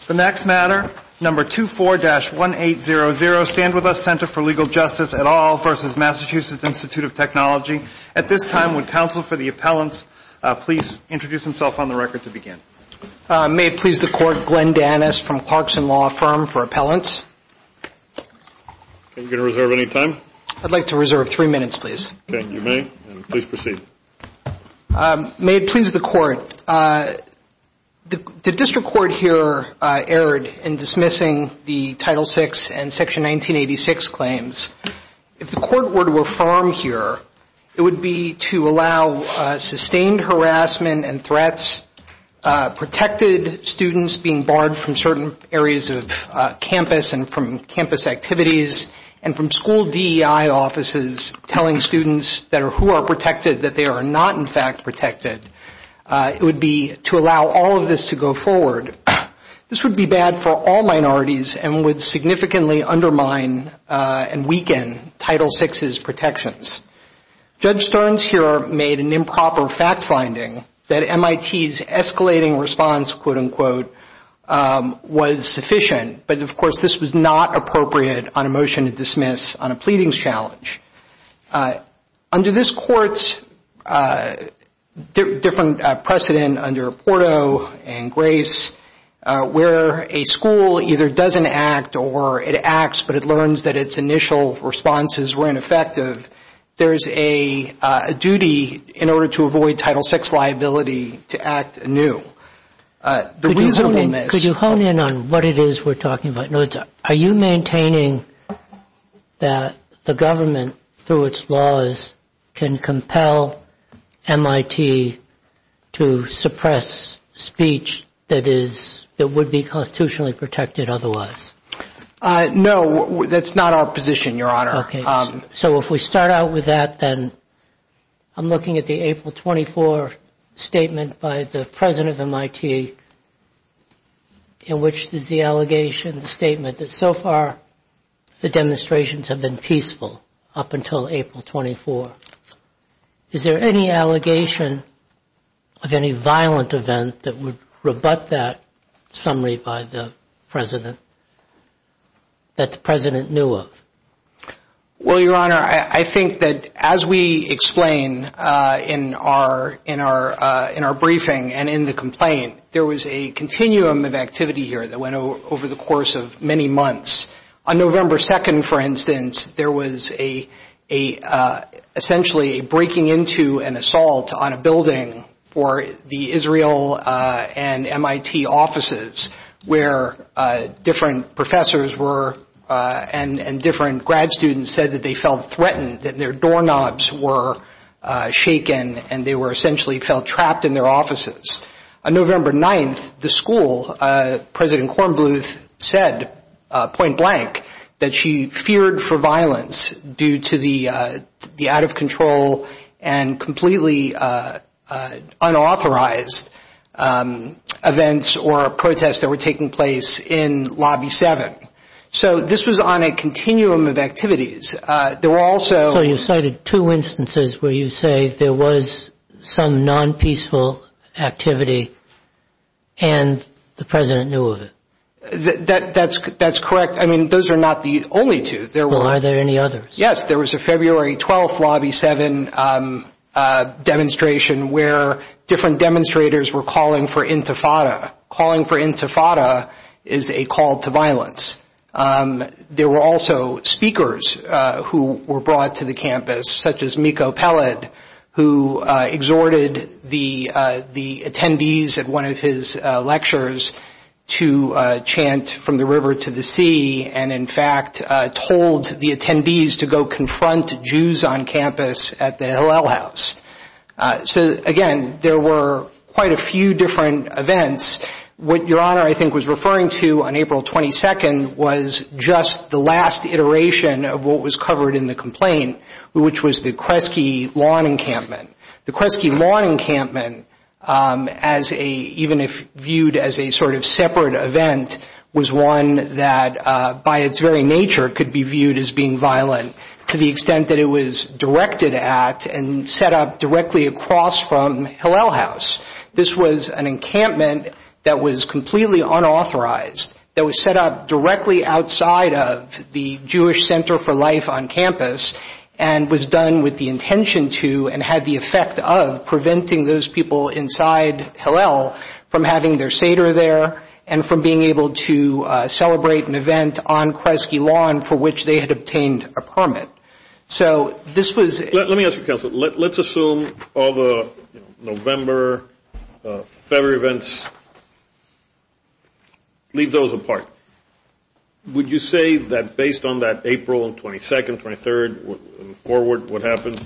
24-1800 StandWithUs Center for Legal Justice et al. v. Massachusetts Institute of Technology At this time, would counsel for the appellants please introduce themselves on the record to begin? May it please the Court, Glenn Dannis from Clarkson Law Firm for Appellants. Are you going to reserve any time? I'd like to reserve three minutes, please. Okay, you may, and please proceed. May it please the Court, the District Court here erred in dismissing the Title VI and Section 1986 claims. If the Court were to affirm here, it would be to allow sustained harassment and threats, protected students being barred from certain areas of campus and from campus activities, and from school DEI offices telling students who are protected that they are not in fact protected. It would be to allow all of this to go forward. This would be bad for all minorities and would significantly undermine and weaken Title VI's protections. Judge Stearns here made an improper fact finding that MIT's escalating response, quote-unquote, was sufficient. But, of course, this was not appropriate on a motion to dismiss on a pleadings challenge. Under this Court's different precedent under Porto and Grace, where a school either doesn't act or it acts, but it learns that its initial responses were ineffective, there is a duty in order to avoid Title VI liability to act anew. Could you hone in on what it is we're talking about? Are you maintaining that the government, through its laws, can compel MIT to suppress speech that would be constitutionally protected otherwise? No, that's not our position, Your Honor. Okay, so if we start out with that, then I'm looking at the April 24 statement by the president of MIT, in which there's the allegation, the statement, that so far the demonstrations have been peaceful up until April 24. Is there any allegation of any violent event that would rebut that summary by the president, that the president knew of? Well, Your Honor, I think that as we explain in our briefing and in the complaint, there was a continuum of activity here that went over the course of many months. On November 2nd, for instance, there was essentially a breaking into and assault on a building for the Israel and MIT offices, where different professors and different grad students said that they felt threatened, that their doorknobs were shaken, and they essentially felt trapped in their offices. On November 9th, the school, President Kornbluth said, point blank, that she feared for violence due to the out-of-control and completely unauthorized events or protests that were taking place in Lobby 7. So this was on a continuum of activities. So you cited two instances where you say there was some non-peaceful activity and the president knew of it. That's correct. I mean, those are not the only two. Are there any others? Yes, there was a February 12th Lobby 7 demonstration where different demonstrators were calling for intifada. Calling for intifada is a call to violence. There were also speakers who were brought to the campus, such as Mikko Pelled, who exhorted the attendees at one of his lectures to chant from the river to the sea and, in fact, told the attendees to go confront Jews on campus at the Hillel House. So, again, there were quite a few different events. What Your Honor, I think, was referring to on April 22nd was just the last iteration of what was covered in the complaint, which was the Kresge Lawn Encampment. The Kresge Lawn Encampment, even if viewed as a sort of separate event, was one that, by its very nature, could be viewed as being violent to the extent that it was directed at and set up directly across from Hillel House. This was an encampment that was completely unauthorized, that was set up directly outside of the Jewish Center for Life on campus and was done with the intention to and had the effect of preventing those people inside Hillel from having their Seder there and from being able to celebrate an event on Kresge Lawn for which they had obtained a permit. Let me ask you, Counselor. Let's assume all the November, February events, leave those apart. Would you say that, based on that April 22nd, 23rd, forward, what happened,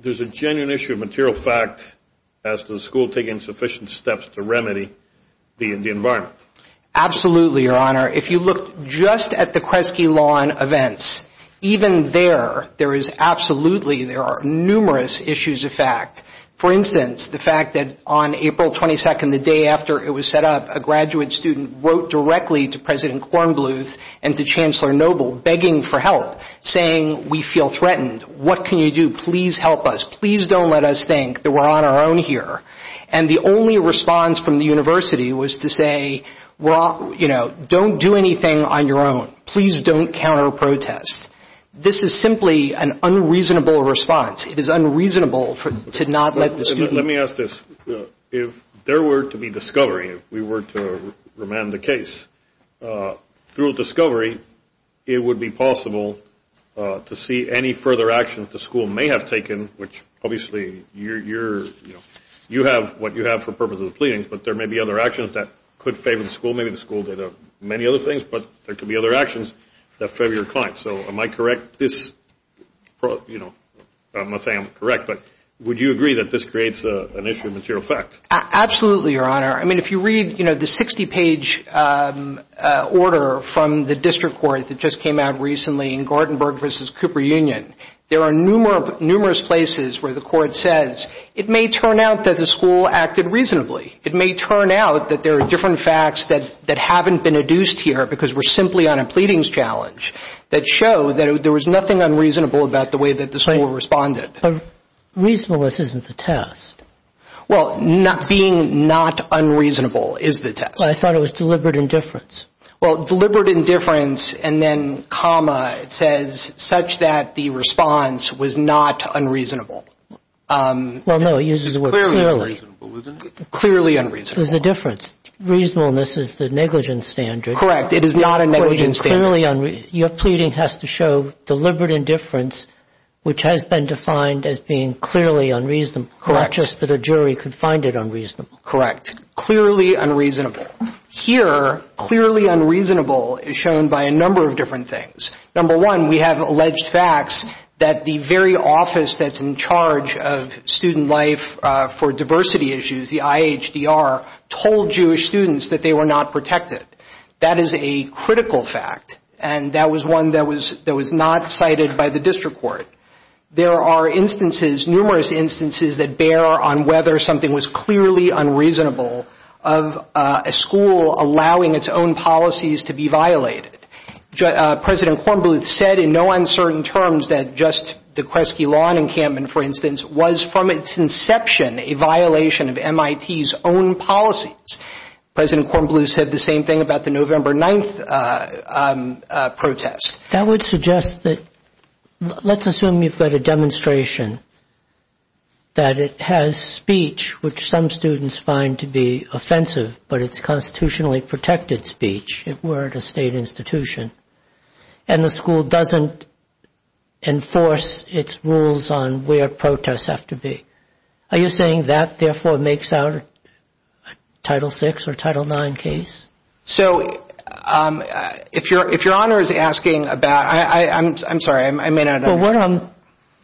there's a genuine issue of material fact as to the school taking sufficient steps to remedy the environment? Absolutely, Your Honor. If you look just at the Kresge Lawn events, even there, there is absolutely, there are numerous issues of fact. For instance, the fact that on April 22nd, the day after it was set up, a graduate student wrote directly to President Kornbluth and to Chancellor Noble, begging for help, saying, We feel threatened. What can you do? Please help us. Please don't let us think that we're on our own here. And the only response from the university was to say, Don't do anything on your own. Please don't counter protest. This is simply an unreasonable response. It is unreasonable to not let this be. Let me ask this. If there were to be discovery, if we were to remand the case, through a discovery, it would be possible to see any further actions the school may have taken, which obviously you're, you know, you have what you have for purposes of pleading, but there may be other actions that could favor the school, maybe the school did many other things, but there could be other actions that favor your client. So am I correct this, you know, I'm not saying I'm correct, but would you agree that this creates an issue of material fact? Absolutely, Your Honor. I mean, if you read, you know, the 60-page order from the district court that just came out recently in Gartenberg v. Cooper Union, there are numerous places where the court says, It may turn out that the school acted reasonably. It may turn out that there are different facts that haven't been adduced here because we're simply on a pleadings challenge that show that there was nothing unreasonable about the way that the school responded. But reasonableness isn't the test. Well, being not unreasonable is the test. I thought it was deliberate indifference. Well, deliberate indifference and then comma, it says, such that the response was not unreasonable. Well, no, it uses the word clearly. Clearly unreasonable. Clearly unreasonable. There's a difference. Reasonableness is the negligence standard. Correct. It is not a negligence standard. Your pleading has to show deliberate indifference, which has been defined as being clearly unreasonable, not just that a jury could find it unreasonable. Correct. Clearly unreasonable. Here, clearly unreasonable is shown by a number of different things. Number one, we have alleged facts that the very office that's in charge of student life for diversity issues, the IHDR, told Jewish students that they were not protected. That is a critical fact, and that was one that was not cited by the district court. There are instances, numerous instances, that bear on whether something was clearly unreasonable of a school allowing its own policies to be violated. President Kornbluth said in no uncertain terms that just the Kresge Lawn encampment, for instance, was from its inception a violation of MIT's own policies. President Kornbluth said the same thing about the November 9th protest. That would suggest that let's assume you've got a demonstration that it has speech, which some students find to be offensive, but it's constitutionally protected speech, if we're at a state institution, and the school doesn't enforce its rules on where protests have to be. Are you saying that, therefore, makes our Title VI or Title IX case? So if Your Honor is asking about – I'm sorry, I may not understand. Well,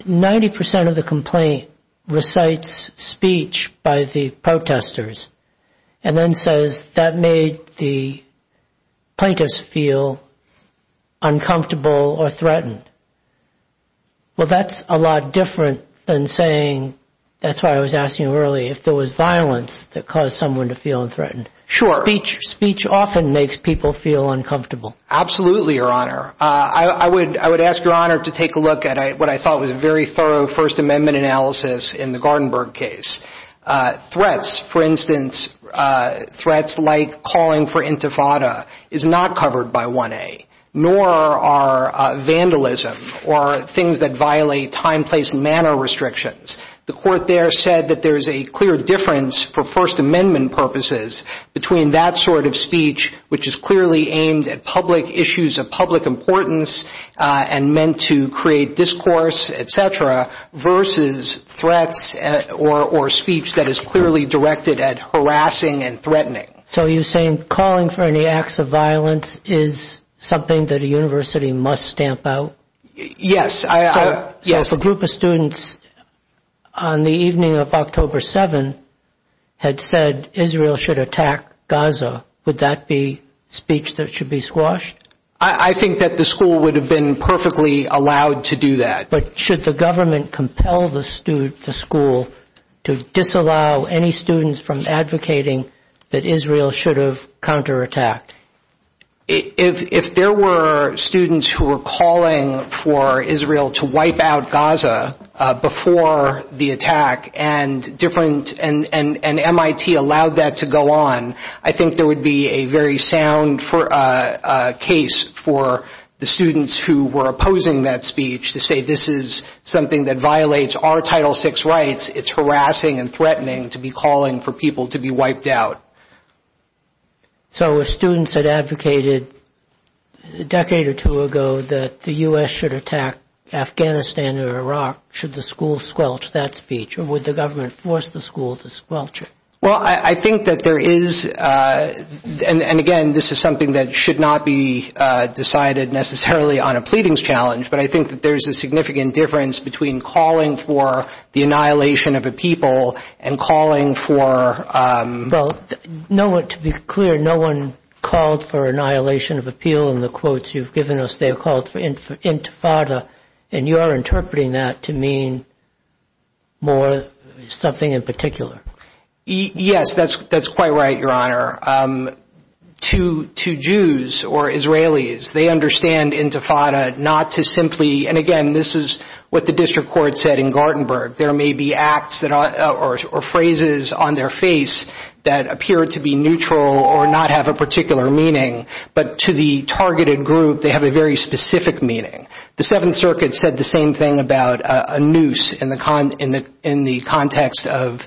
90 percent of the complaint recites speech by the protesters and then says that made the plaintiffs feel uncomfortable or threatened. Well, that's a lot different than saying – that's why I was asking earlier if there was violence that caused someone to feel threatened. Sure. Speech often makes people feel uncomfortable. Absolutely, Your Honor. I would ask Your Honor to take a look at what I thought was a very thorough First Amendment analysis in the Gartenberg case. Threats, for instance, threats like calling for intifada is not covered by 1A, nor are vandalism or things that violate time, place, and manner restrictions. The court there said that there is a clear difference for First Amendment purposes between that sort of speech, which is clearly aimed at public issues of public importance and meant to create discourse, et cetera, versus threats or speech that is clearly directed at harassing and threatening. So are you saying calling for any acts of violence is something that a university must stamp out? Yes. So if a group of students on the evening of October 7 had said Israel should attack Gaza, would that be speech that should be squashed? I think that the school would have been perfectly allowed to do that. But should the government compel the school to disallow any students from advocating that Israel should have counterattacked? If there were students who were calling for Israel to wipe out Gaza before the attack and MIT allowed that to go on, I think there would be a very sound case for the students who were opposing that speech to say this is something that violates our Title VI rights. It's harassing and threatening to be calling for people to be wiped out. So if students had advocated a decade or two ago that the U.S. should attack Afghanistan or Iraq, should the school squelch that speech, or would the government force the school to squelch it? Well, I think that there is, and again, this is something that should not be decided necessarily on a pleadings challenge, but I think that there is a significant difference between calling for the annihilation of a people and calling for – Well, to be clear, no one called for annihilation of a people in the quotes you've given us. They have called for intifada, and you are interpreting that to mean more something in particular. Yes, that's quite right, Your Honor. To Jews or Israelis, they understand intifada not to simply – and again, this is what the district court said in Gartenberg. There may be acts or phrases on their face that appear to be neutral or not have a particular meaning, but to the targeted group, they have a very specific meaning. The Seventh Circuit said the same thing about a noose in the context of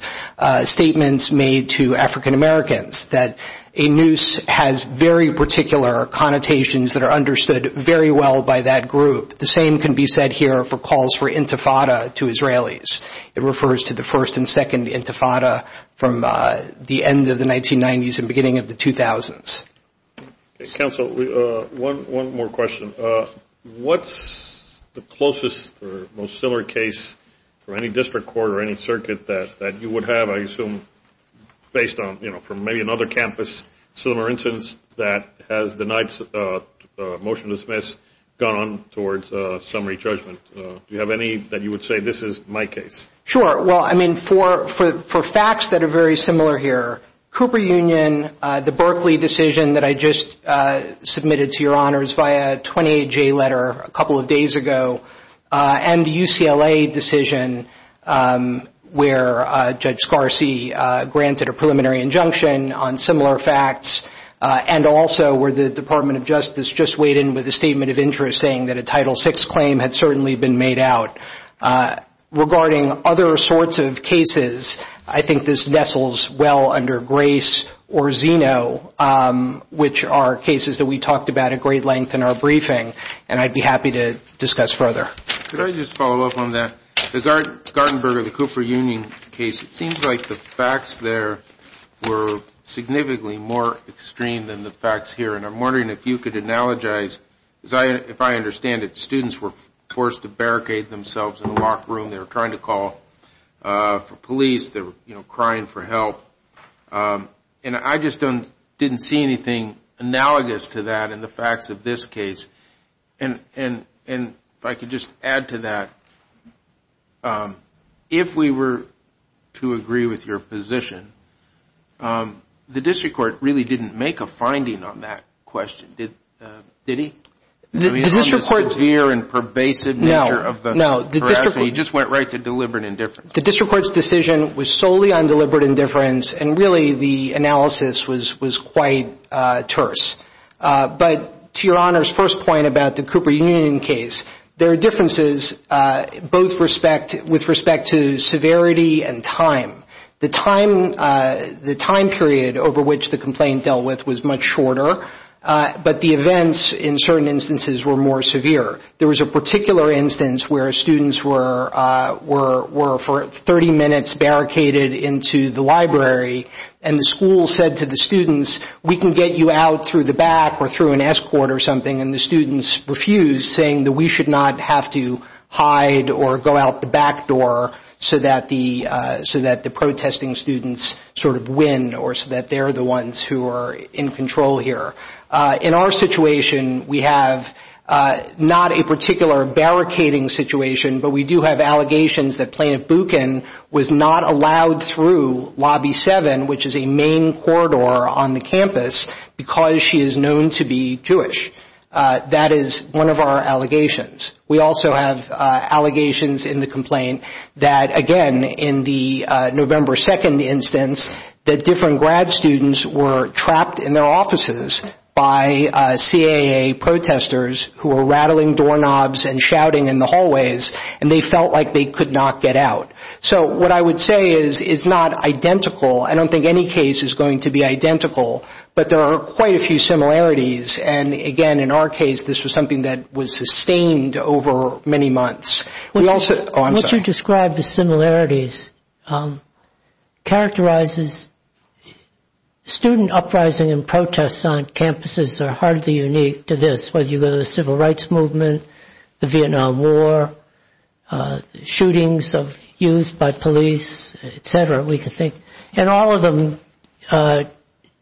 statements made to African Americans, that a noose has very particular connotations that are understood very well by that group. The same can be said here for calls for intifada to Israelis. It refers to the first and second intifada from the end of the 1990s and beginning of the 2000s. Counsel, one more question. What's the closest or most similar case for any district court or any circuit that you would have, I assume, based on, you know, from maybe another campus, similar instance that has denied motion to dismiss, gone on towards summary judgment? Do you have any that you would say, this is my case? Sure. Well, I mean, for facts that are very similar here, Cooper Union, the Berkeley decision that I just submitted to Your Honors via 28-J letter a couple of days ago, and the UCLA decision where Judge Scarcey granted a preliminary injunction on similar facts, and also where the Department of Justice just weighed in with a statement of interest saying that a Title VI claim had certainly been made out. Regarding other sorts of cases, I think this nestles well under Grace or Zeno, which are cases that we talked about at great length in our briefing, and I'd be happy to discuss further. Could I just follow up on that? The Gartenberger, the Cooper Union case, it seems like the facts there were significantly more extreme than the facts here. And I'm wondering if you could analogize, if I understand it, students were forced to barricade themselves in a locked room. They were trying to call for police. They were, you know, crying for help. And I just don't, didn't see anything analogous to that in the facts of this case. And if I could just add to that, if we were to agree with your position, the district court really didn't make a finding on that question, did he? The district court. The severe and pervasive nature of the harassment. No, no. He just went right to deliberate indifference. The district court's decision was solely on deliberate indifference, and really the analysis was quite terse. But to your Honor's first point about the Cooper Union case, there are differences with respect to severity and time. The time period over which the complaint dealt with was much shorter, but the events in certain instances were more severe. There was a particular instance where students were for 30 minutes barricaded into the library, and the school said to the students, we can get you out through the back or through an escort or something, and the students refused, saying that we should not have to hide or go out the back door so that the protesting students sort of win or so that they're the ones who are in control here. In our situation, we have not a particular barricading situation, but we do have allegations that Plaintiff Buchan was not allowed through Lobby 7, which is a main corridor on the campus, because she is known to be Jewish. That is one of our allegations. We also have allegations in the complaint that, again, in the November 2nd instance, that different grad students were trapped in their offices by CAA protesters who were rattling doorknobs and shouting in the hallways, and they felt like they could not get out. So what I would say is it's not identical. I don't think any case is going to be identical, but there are quite a few similarities, and, again, in our case, this was something that was sustained over many months. What you described as similarities characterizes student uprising and protests on campuses that are hardly unique to this, whether you go to the Civil Rights Movement, the Vietnam War, shootings of youth by police, et cetera, we can think, and all of them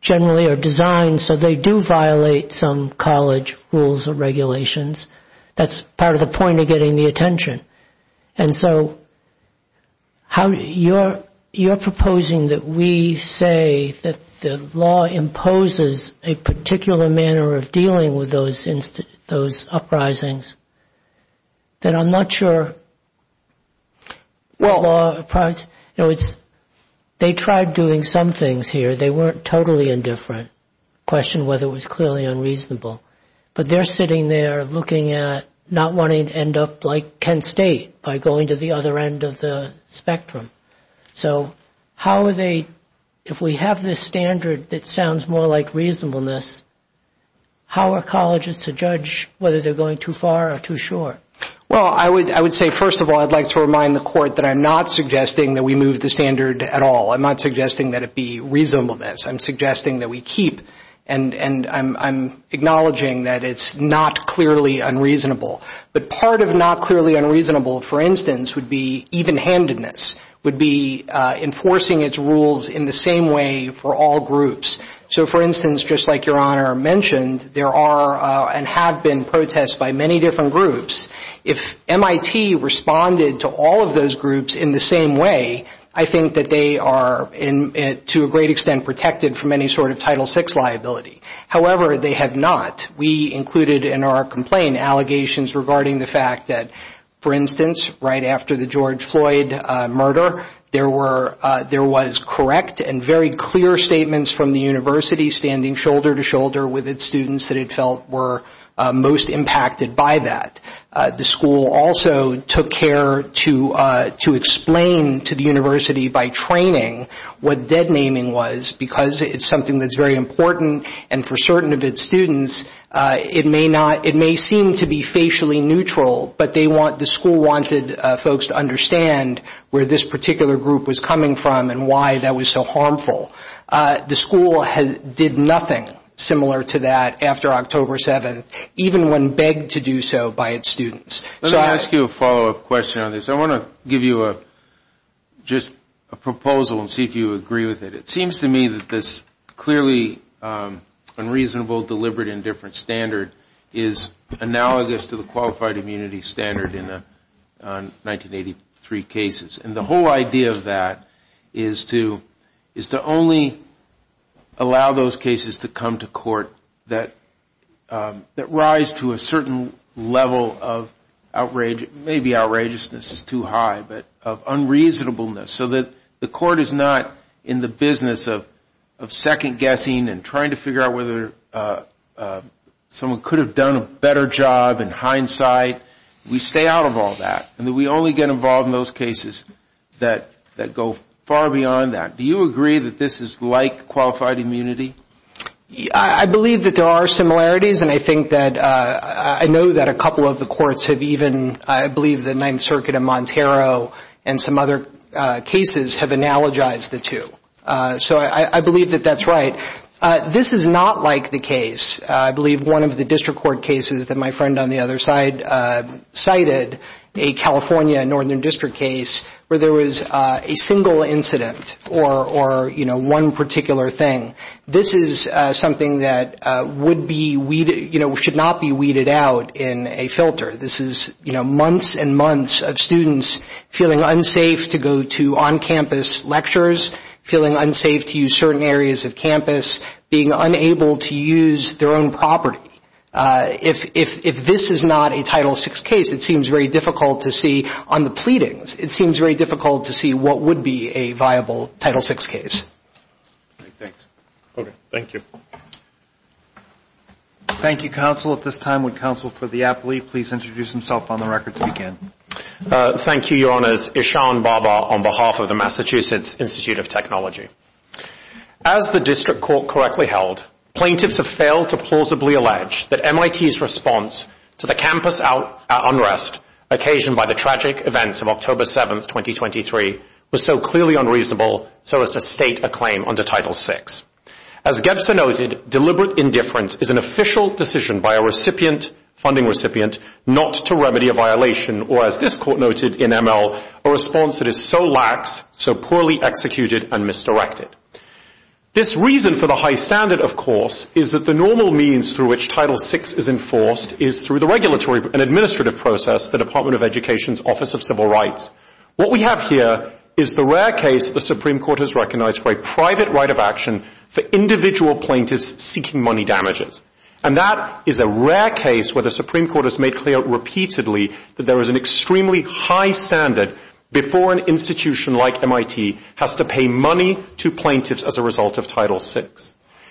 generally are designed so they do violate some college rules or regulations. That's part of the point of getting the attention. And so you're proposing that we say that the law imposes a particular manner of dealing with those uprisings. Then I'm not sure what law applies. They tried doing some things here. They weren't totally indifferent, questioned whether it was clearly unreasonable, but they're sitting there looking at not wanting to end up like Kent State by going to the other end of the spectrum. So how are they, if we have this standard that sounds more like reasonableness, how are colleges to judge whether they're going too far or too short? Well, I would say, first of all, I'd like to remind the Court that I'm not suggesting that we move the standard at all. I'm not suggesting that it be reasonableness. I'm suggesting that we keep and I'm acknowledging that it's not clearly unreasonable. But part of not clearly unreasonable, for instance, would be evenhandedness, would be enforcing its rules in the same way for all groups. So, for instance, just like Your Honor mentioned, there are and have been protests by many different groups. If MIT responded to all of those groups in the same way, I think that they are to a great extent protected from any sort of Title VI liability. However, they have not. We included in our complaint allegations regarding the fact that, for instance, right after the George Floyd murder, there was correct and very clear statements from the university standing shoulder to shoulder with its students that it felt were most impacted by that. The school also took care to explain to the university by training what dead naming was because it's something that's very important and for certain of its students, it may seem to be facially neutral, but the school wanted folks to understand where this particular group was coming from and why that was so harmful. The school did nothing similar to that after October 7th, even when begged to do so by its students. Let me ask you a follow-up question on this. I want to give you just a proposal and see if you agree with it. It seems to me that this clearly unreasonable, deliberate, indifferent standard is analogous to the qualified immunity standard in the 1983 cases. And the whole idea of that is to only allow those cases to come to court that rise to a certain level of outrage, maybe outrageousness is too high, but of unreasonableness so that the court is not in the business of second-guessing and trying to figure out whether someone could have done a better job in hindsight. We stay out of all that and we only get involved in those cases that go far beyond that. Do you agree that this is like qualified immunity? I believe that there are similarities and I think that I know that a couple of the courts have even, I believe the Ninth Circuit in Montero and some other cases have analogized the two. So I believe that that's right. This is not like the case. I believe one of the district court cases that my friend on the other side cited, a California Northern District case where there was a single incident or one particular thing. This is something that should not be weeded out in a filter. This is months and months of students feeling unsafe to go to on-campus lectures, feeling unsafe to use certain areas of campus, being unable to use their own property. If this is not a Title VI case, it seems very difficult to see on the pleadings. It seems very difficult to see what would be a viable Title VI case. Thanks. Okay. Thank you. Thank you, counsel. At this time, would counsel for the appellee please introduce himself on the record to begin? Thank you, Your Honors. Ishan Baba on behalf of the Massachusetts Institute of Technology. As the district court correctly held, plaintiffs have failed to plausibly allege that MIT's response to the campus unrest occasioned by the tragic events of October 7, 2023, was so clearly unreasonable so as to state a claim under Title VI. As Gebser noted, deliberate indifference is an official decision by a recipient, funding recipient, not to remedy a violation or, as this court noted in ML, a response that is so lax, so poorly executed and misdirected. This reason for the high standard, of course, is that the normal means through which Title VI is enforced is through the regulatory and administrative process, the Department of Education's Office of Civil Rights. What we have here is the rare case the Supreme Court has recognized for a private right of action for individual plaintiffs seeking money damages. And that is a rare case where the Supreme Court has made clear repeatedly that there is an extremely high standard before an institution like MIT has to pay money to plaintiffs as a result of Title VI.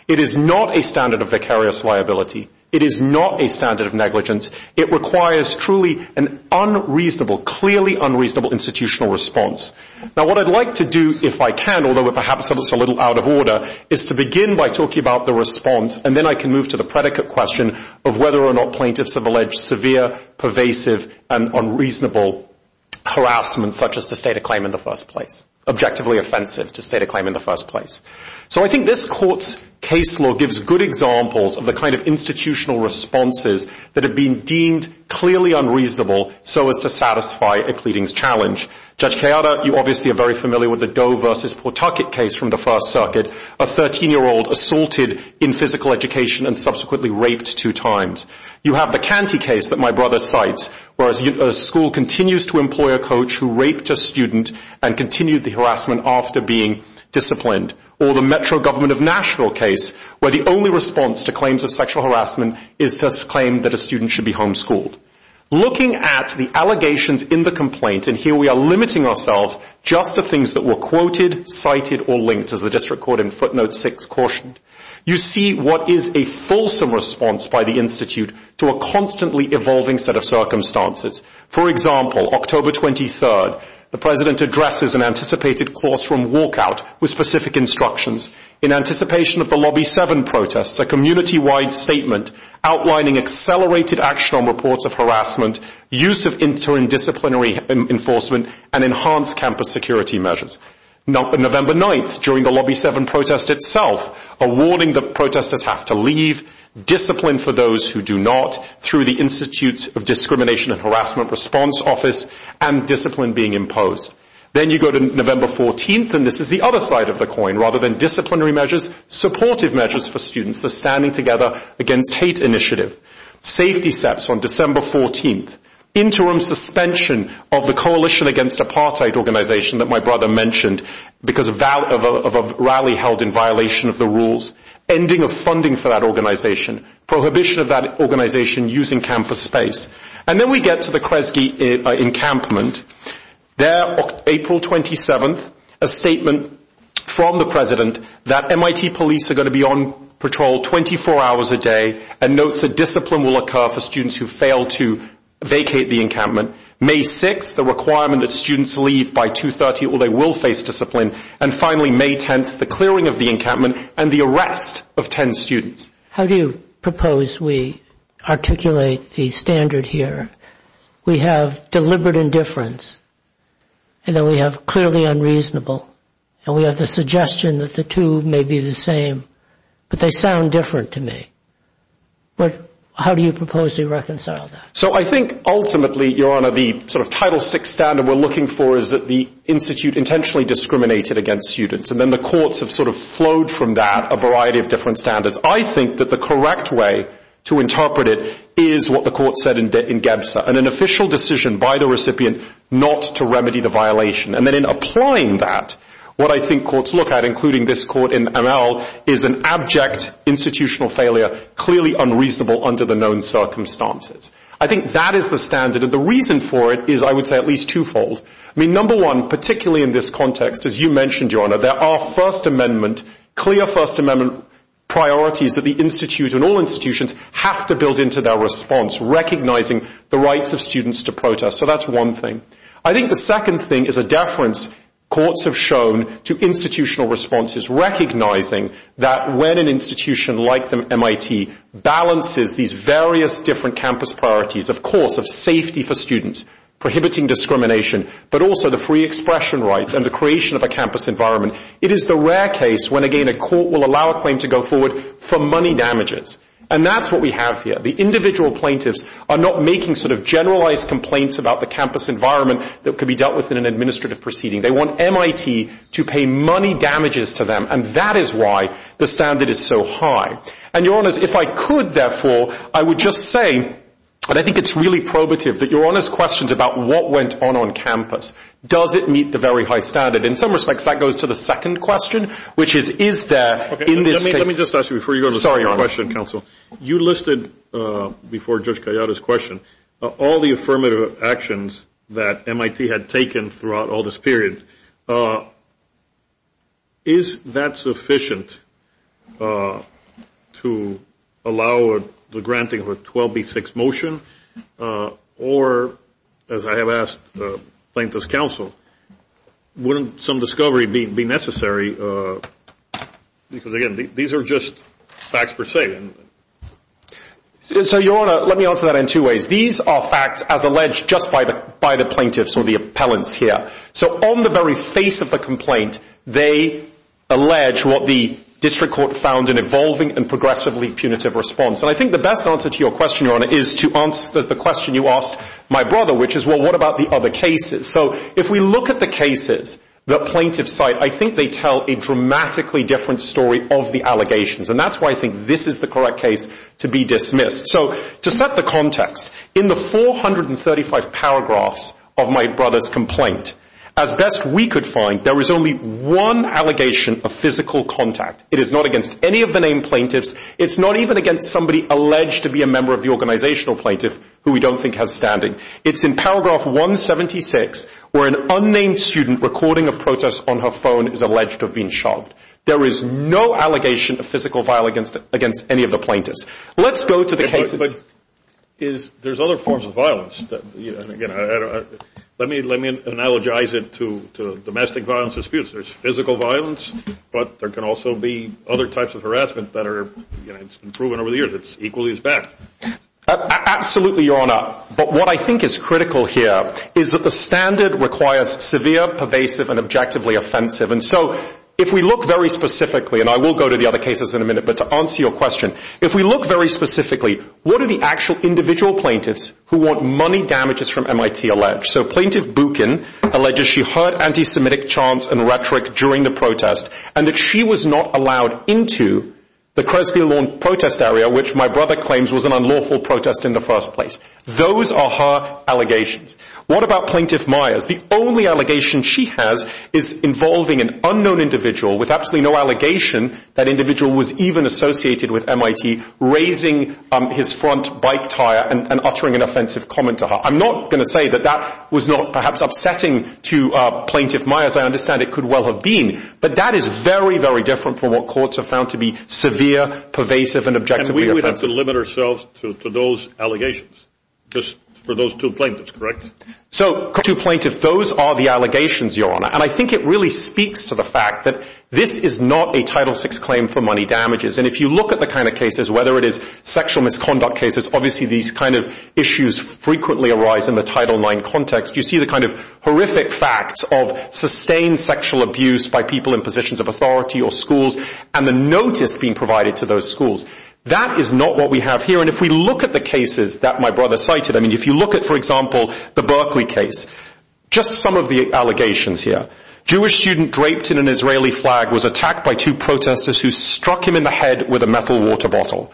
It is not a standard of vicarious liability. It is not a standard of negligence. It requires truly an unreasonable, clearly unreasonable institutional response. Now what I'd like to do, if I can, although perhaps it's a little out of order, is to begin by talking about the response and then I can move to the predicate question of whether or not plaintiffs have alleged severe, pervasive, and unreasonable harassment such as to state a claim in the first place, objectively offensive to state a claim in the first place. So I think this court's case law gives good examples of the kind of institutional responses that have been deemed clearly unreasonable so as to satisfy a pleadings challenge. Judge Keada, you obviously are very familiar with the Doe versus Pawtucket case from the First Circuit, a 13-year-old assaulted in physical education and subsequently raped two times. You have the Canty case that my brother cites where a school continues to employ a coach who raped a student and continued the harassment after being disciplined. Or the Metro Government of Nashville case where the only response to claims of sexual harassment is this claim that a student should be homeschooled. Looking at the allegations in the complaint, and here we are limiting ourselves just to things that were quoted, cited, or linked as the District Court in footnote 6 cautioned, you see what is a fulsome response by the Institute to a constantly evolving set of circumstances. For example, October 23rd, the President addresses an anticipated classroom walkout with specific instructions in anticipation of the Lobby 7 protests, a community-wide statement outlining accelerated action on reports of harassment, use of interdisciplinary enforcement, and enhanced campus security measures. November 9th, during the Lobby 7 protest itself, a warning that protesters have to leave, discipline for those who do not through the Institute of Discrimination and Harassment Response Office, and discipline being imposed. Then you go to November 14th, and this is the other side of the coin. Rather than disciplinary measures, supportive measures for students, the Standing Together Against Hate initiative, safety steps on December 14th, interim suspension of the Coalition Against Apartheid organization that my brother mentioned because of a rally held in violation of the rules, ending of funding for that organization, prohibition of that organization using campus space. And then we get to the Kresge encampment. There, April 27th, a statement from the President that MIT police are going to be on patrol 24 hours a day and notes that discipline will occur for students who fail to vacate the encampment. May 6th, the requirement that students leave by 2.30 or they will face discipline. And finally, May 10th, the clearing of the encampment and the arrest of 10 students. How do you propose we articulate the standard here? We have deliberate indifference, and then we have clearly unreasonable, and we have the suggestion that the two may be the same, but they sound different to me. How do you propose we reconcile that? So I think ultimately, Your Honor, the sort of Title VI standard we're looking for is that the institute intentionally discriminated against students, and then the courts have sort of flowed from that a variety of different standards. I think that the correct way to interpret it is what the court said in Gebza and an official decision by the recipient not to remedy the violation. And then in applying that, what I think courts look at, including this court in Amal, is an abject institutional failure, clearly unreasonable under the known circumstances. I think that is the standard, and the reason for it is, I would say, at least twofold. I mean, number one, particularly in this context, as you mentioned, Your Honor, there are First Amendment, clear First Amendment priorities that the institute and all institutions have to build into their response, recognizing the rights of students to protest. So that's one thing. I think the second thing is a deference courts have shown to institutional responses, recognizing that when an institution like MIT balances these various different campus priorities, of course, of safety for students, prohibiting discrimination, but also the free expression rights and the creation of a campus environment, it is the rare case when, again, a court will allow a claim to go forward for money damages. And that's what we have here. The individual plaintiffs are not making sort of generalized complaints about the campus environment that could be dealt with in an administrative proceeding. They want MIT to pay money damages to them, and that is why the standard is so high. And, Your Honor, if I could, therefore, I would just say, and I think it's really probative, that Your Honor's question is about what went on on campus. Does it meet the very high standard? In some respects, that goes to the second question, which is, is there in this case. Let me just ask you before you go to the third question, counsel. You listed before Judge Gallardo's question all the affirmative actions that MIT had taken throughout all this period. Is that sufficient to allow the granting of a 12B6 motion? Or, as I have asked the plaintiffs' counsel, wouldn't some discovery be necessary? Because, again, these are just facts per se. So, Your Honor, let me answer that in two ways. These are facts as alleged just by the plaintiffs or the appellants here. So, on the very face of the complaint, they allege what the district court found in evolving and progressively punitive response. And I think the best answer to your question, Your Honor, is to answer the question you asked my brother, which is, well, what about the other cases? So, if we look at the cases that plaintiffs cite, I think they tell a dramatically different story of the allegations. And that's why I think this is the correct case to be dismissed. So, to set the context, in the 435 paragraphs of my brother's complaint, as best we could find, there was only one allegation of physical contact. It is not against any of the named plaintiffs. It's not even against somebody alleged to be a member of the organizational plaintiff who we don't think has standing. It's in paragraph 176 where an unnamed student recording a protest on her phone is alleged to have been shot. There is no allegation of physical violence against any of the plaintiffs. Let's go to the cases. But there's other forms of violence. Let me analogize it to domestic violence disputes. There's physical violence, but there can also be other types of harassment that have been proven over the years that's equally as bad. Absolutely, Your Honor. But what I think is critical here is that the standard requires severe, pervasive, and objectively offensive. And so, if we look very specifically, and I will go to the other cases in a minute, but to answer your question, if we look very specifically, what are the actual individual plaintiffs who want money damages from MIT alleged? So Plaintiff Buchan alleges she heard anti-Semitic chants and rhetoric during the protest and that she was not allowed into the Cresfield Lawn protest area, which my brother claims was an unlawful protest in the first place. Those are her allegations. What about Plaintiff Myers? The only allegation she has is involving an unknown individual with absolutely no allegation that individual was even associated with MIT, raising his front bike tire and uttering an offensive comment to her. I'm not going to say that that was not perhaps upsetting to Plaintiff Myers. I understand it could well have been. But that is very, very different from what courts have found to be severe, pervasive, and objectively offensive. And we would have to limit ourselves to those allegations, just for those two plaintiffs, correct? So those two plaintiffs, those are the allegations, Your Honor. And I think it really speaks to the fact that this is not a Title VI claim for money damages. And if you look at the kind of cases, whether it is sexual misconduct cases, obviously these kind of issues frequently arise in the Title IX context. You see the kind of horrific facts of sustained sexual abuse by people in positions of authority or schools and the notice being provided to those schools. That is not what we have here. And if we look at the cases that my brother cited, I mean, if you look at, for example, the Berkeley case, just some of the allegations here. Jewish student draped in an Israeli flag was attacked by two protesters who struck him in the head with a metal water bottle.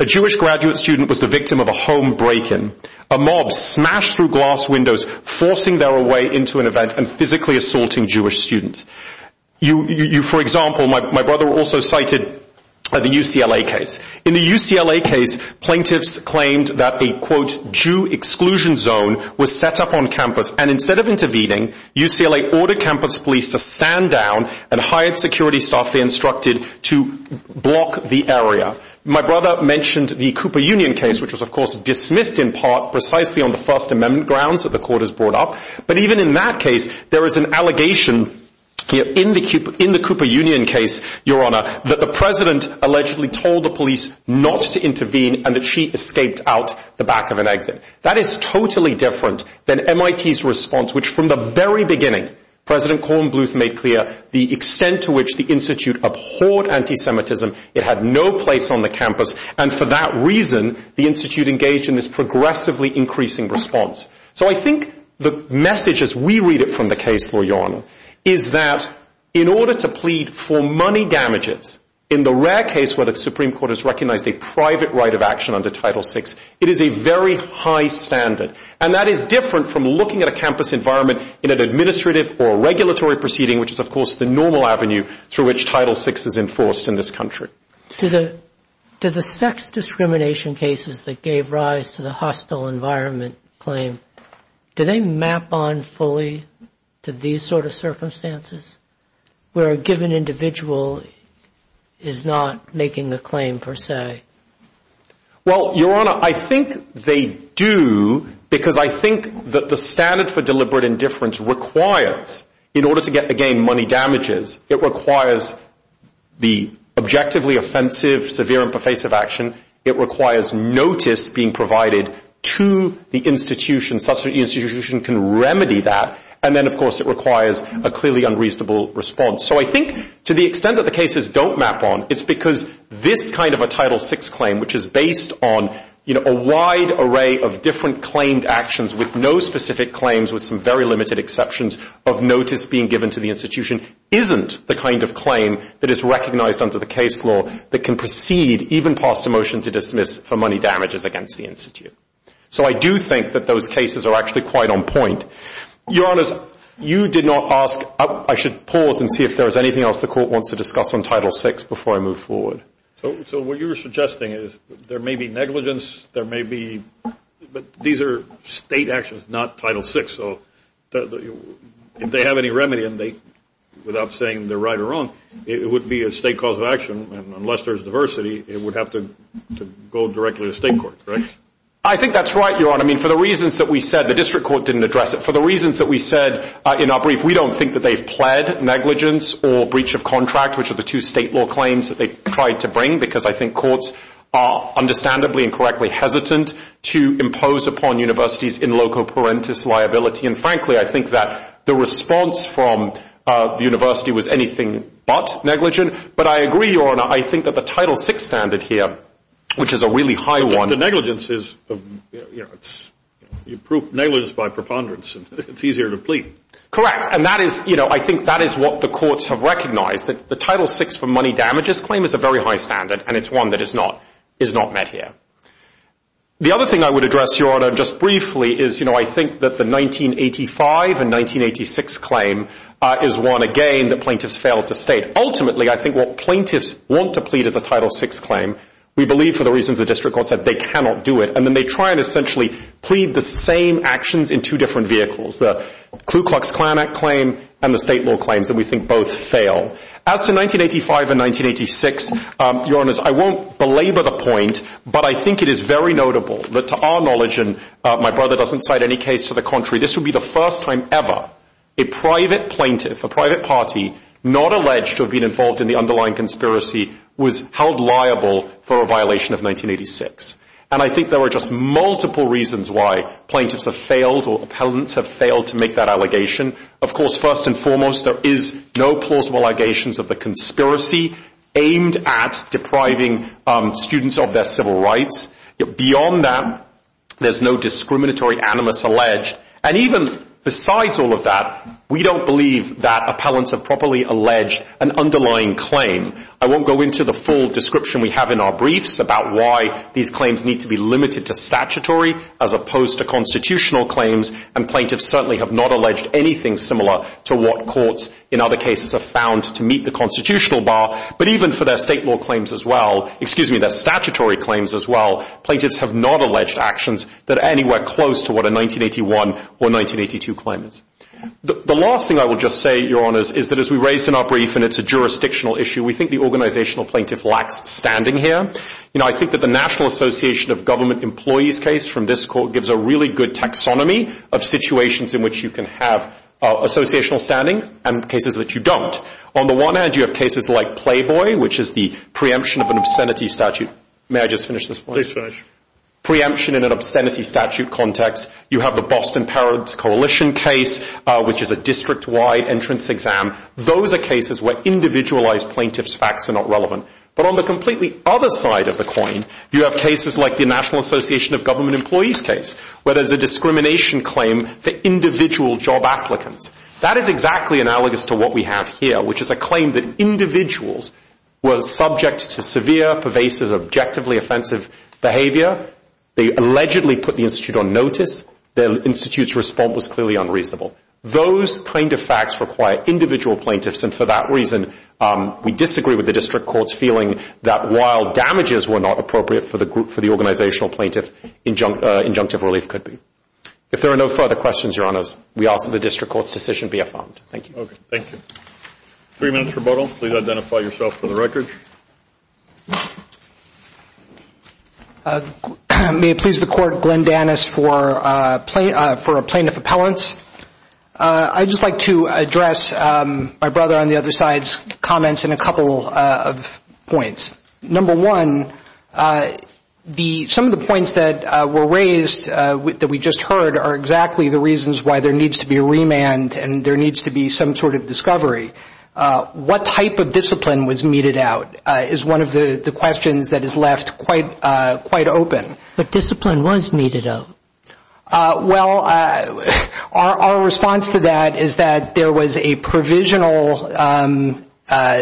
A Jewish graduate student was the victim of a home break-in. A mob smashed through glass windows, forcing their way into an event and physically assaulting Jewish students. For example, my brother also cited the UCLA case. In the UCLA case, plaintiffs claimed that a, quote, Jew exclusion zone was set up on campus. And instead of intervening, UCLA ordered campus police to stand down and hired security staff they instructed to block the area. My brother mentioned the Cooper Union case, which was, of course, dismissed in part precisely on the First Amendment grounds that the court has brought up. But even in that case, there is an allegation in the Cooper Union case, Your Honor, that the president allegedly told the police not to intervene and that she escaped out the back of an exit. That is totally different than MIT's response, which from the very beginning, President Corn Bluth made clear the extent to which the Institute abhorred anti-Semitism. It had no place on the campus. And for that reason, the Institute engaged in this progressively increasing response. So I think the message as we read it from the case, Your Honor, is that in order to plead for money damages, in the rare case where the Supreme Court has recognized a private right of action under Title VI, it is a very high standard. And that is different from looking at a campus environment in an administrative or regulatory proceeding, which is, of course, the normal avenue through which Title VI is enforced in this country. To the sex discrimination cases that gave rise to the hostile environment claim, do they map on fully to these sort of circumstances where a given individual is not making a claim per se? Well, Your Honor, I think they do because I think that the standard for deliberate indifference requires, in order to get, again, money damages, it requires the objectively offensive, severe, and pervasive action. It requires notice being provided to the institution such that the institution can remedy that. And then, of course, it requires a clearly unreasonable response. So I think to the extent that the cases don't map on, it's because this kind of a Title VI claim, which is based on a wide array of different claimed actions with no specific claims, with some very limited exceptions of notice being given to the institution, isn't the kind of claim that is recognized under the case law that can proceed, even past a motion to dismiss, for money damages against the institute. So I do think that those cases are actually quite on point. Your Honors, you did not ask, I should pause and see if there is anything else the Court wants to discuss on Title VI before I move forward. So what you're suggesting is there may be negligence, there may be, but these are state actions, not Title VI, so if they have any remedy and they, without saying they're right or wrong, it would be a state cause of action, and unless there's diversity, it would have to go directly to state court, right? I think that's right, Your Honor. I mean, for the reasons that we said, the district court didn't address it. For the reasons that we said in our brief, we don't think that they've pled negligence or breach of contract, which are the two state law claims that they tried to bring, because I think courts are understandably and correctly hesitant to impose upon universities in loco parentis liability, and frankly, I think that the response from the university was anything but negligent, but I agree, Your Honor, I think that the Title VI standard here, which is a really high one. But the negligence is, you know, you prove negligence by preponderance, and it's easier to plead. Correct, and that is, you know, I think that is what the courts have recognized, that the Title VI for money damages claim is a very high standard, and it's one that is not met here. The other thing I would address, Your Honor, just briefly is, you know, I think that the 1985 and 1986 claim is one, again, that plaintiffs failed to state. Ultimately, I think what plaintiffs want to plead is the Title VI claim. We believe, for the reasons the district court said, they cannot do it, and then they try and essentially plead the same actions in two different vehicles, the Ku Klux Klan Act claim and the state law claims, and we think both fail. As to 1985 and 1986, Your Honors, I won't belabor the point, but I think it is very notable that to our knowledge, and my brother doesn't cite any case to the contrary, this would be the first time ever a private plaintiff, a private party, not alleged to have been involved in the underlying conspiracy was held liable for a violation of 1986. And I think there are just multiple reasons why plaintiffs have failed or appellants have failed to make that allegation. Of course, first and foremost, there is no plausible allegations of the conspiracy aimed at depriving students of their civil rights. Beyond that, there's no discriminatory animus alleged. And even besides all of that, we don't believe that appellants have properly alleged an underlying claim. I won't go into the full description we have in our briefs about why these claims need to be limited to statutory as opposed to constitutional claims, and plaintiffs certainly have not alleged anything similar to what courts in other cases have found to meet the constitutional bar. But even for their state law claims as well, excuse me, their statutory claims as well, plaintiffs have not alleged actions that are anywhere close to what a 1981 or 1982 claim is. The last thing I will just say, Your Honors, is that as we raised in our brief and it's a jurisdictional issue, we think the organizational plaintiff lacks standing here. I think that the National Association of Government Employees case from this court gives a really good taxonomy of situations in which you can have associational standing and cases that you don't. On the one hand, you have cases like Playboy, which is the preemption of an obscenity statute. May I just finish this point? Please finish. Preemption in an obscenity statute context. You have the Boston Parents Coalition case, which is a district-wide entrance exam. Those are cases where individualized plaintiff's facts are not relevant. But on the completely other side of the coin, you have cases like the National Association of Government Employees case, where there's a discrimination claim for individual job applicants. That is exactly analogous to what we have here, which is a claim that individuals were subject to severe, pervasive, objectively offensive behavior. They allegedly put the institute on notice. The institute's response was clearly unreasonable. Those kind of facts require individual plaintiffs, and for that reason, we disagree with the district court's feeling that while damages were not appropriate for the organizational plaintiff, injunctive relief could be. If there are no further questions, Your Honors, we ask that the district court's decision be affirmed. Thank you. Thank you. Three minutes rebuttal. Please identify yourself for the record. May it please the Court, Glenn Danis for plaintiff appellants. I'd just like to address my brother on the other side's comments in a couple of points. Number one, some of the points that were raised that we just heard are exactly the reasons why there needs to be a remand and there needs to be some sort of discovery. What type of discipline was meted out is one of the questions that is left quite open. But discipline was meted out. Well, our response to that is that there was a provisional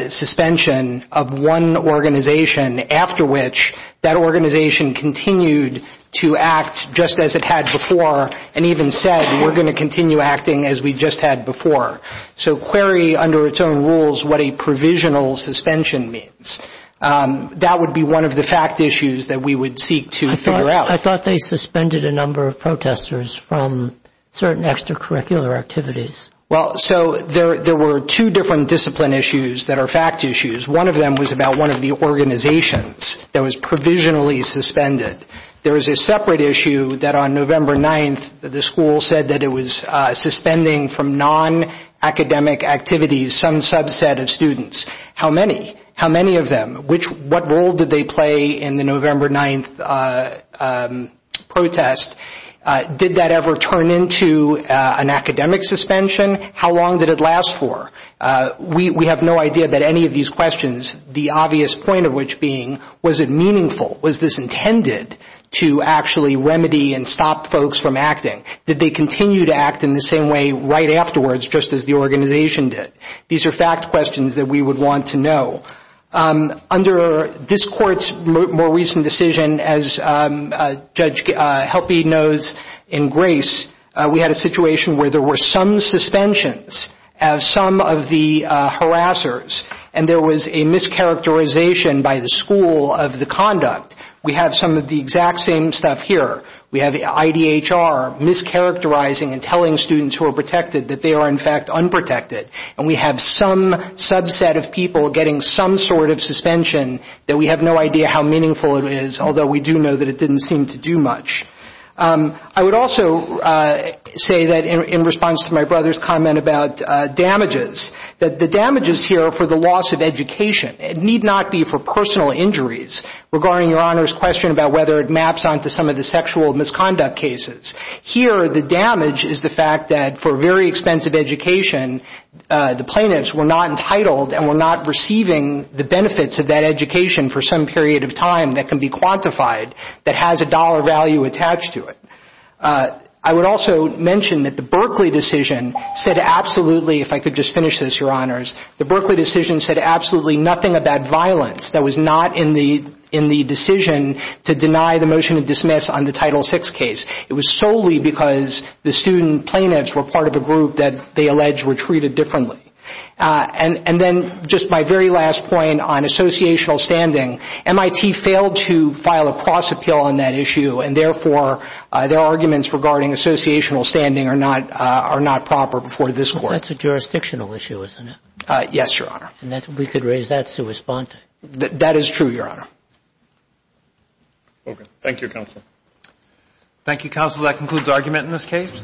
suspension of one organization, after which that organization continued to act just as it had before and even said we're going to continue acting as we just had before. So query under its own rules what a provisional suspension means. That would be one of the fact issues that we would seek to figure out. I thought they suspended a number of protesters from certain extracurricular activities. Well, so there were two different discipline issues that are fact issues. One of them was about one of the organizations that was provisionally suspended. There was a separate issue that on November 9th the school said that it was suspending from non-academic activities some subset of students. How many? How many of them? What role did they play in the November 9th protest? Did that ever turn into an academic suspension? How long did it last for? We have no idea about any of these questions, the obvious point of which being was it meaningful? Was this intended to actually remedy and stop folks from acting? Did they continue to act in the same way right afterwards just as the organization did? These are fact questions that we would want to know. Under this court's more recent decision, as Judge Helpe knows in grace, we had a situation where there were some suspensions of some of the harassers and there was a mischaracterization by the school of the conduct. We have some of the exact same stuff here. We have IDHR mischaracterizing and telling students who are protected that they are in fact unprotected, and we have some subset of people getting some sort of suspension that we have no idea how meaningful it is, although we do know that it didn't seem to do much. I would also say that in response to my brother's comment about damages, that the damages here are for the loss of education. It need not be for personal injuries. Regarding Your Honor's question about whether it maps onto some of the sexual misconduct cases, here the damage is the fact that for very expensive education the plaintiffs were not entitled and were not receiving the benefits of that education for some period of time that can be quantified, that has a dollar value attached to it. I would also mention that the Berkeley decision said absolutely, if I could just finish this, Your Honors, the Berkeley decision said absolutely nothing about violence. That was not in the decision to deny the motion to dismiss on the Title VI case. It was solely because the student plaintiffs were part of a group that they alleged were treated differently. And then just my very last point on associational standing, MIT failed to file a cross appeal on that issue, and therefore their arguments regarding associational standing are not proper before this Court. That's a jurisdictional issue, isn't it? Yes, Your Honor. We could raise that to respond to. That is true, Your Honor. Okay. Thank you, Counsel. Thank you, Counsel. That concludes argument in this case.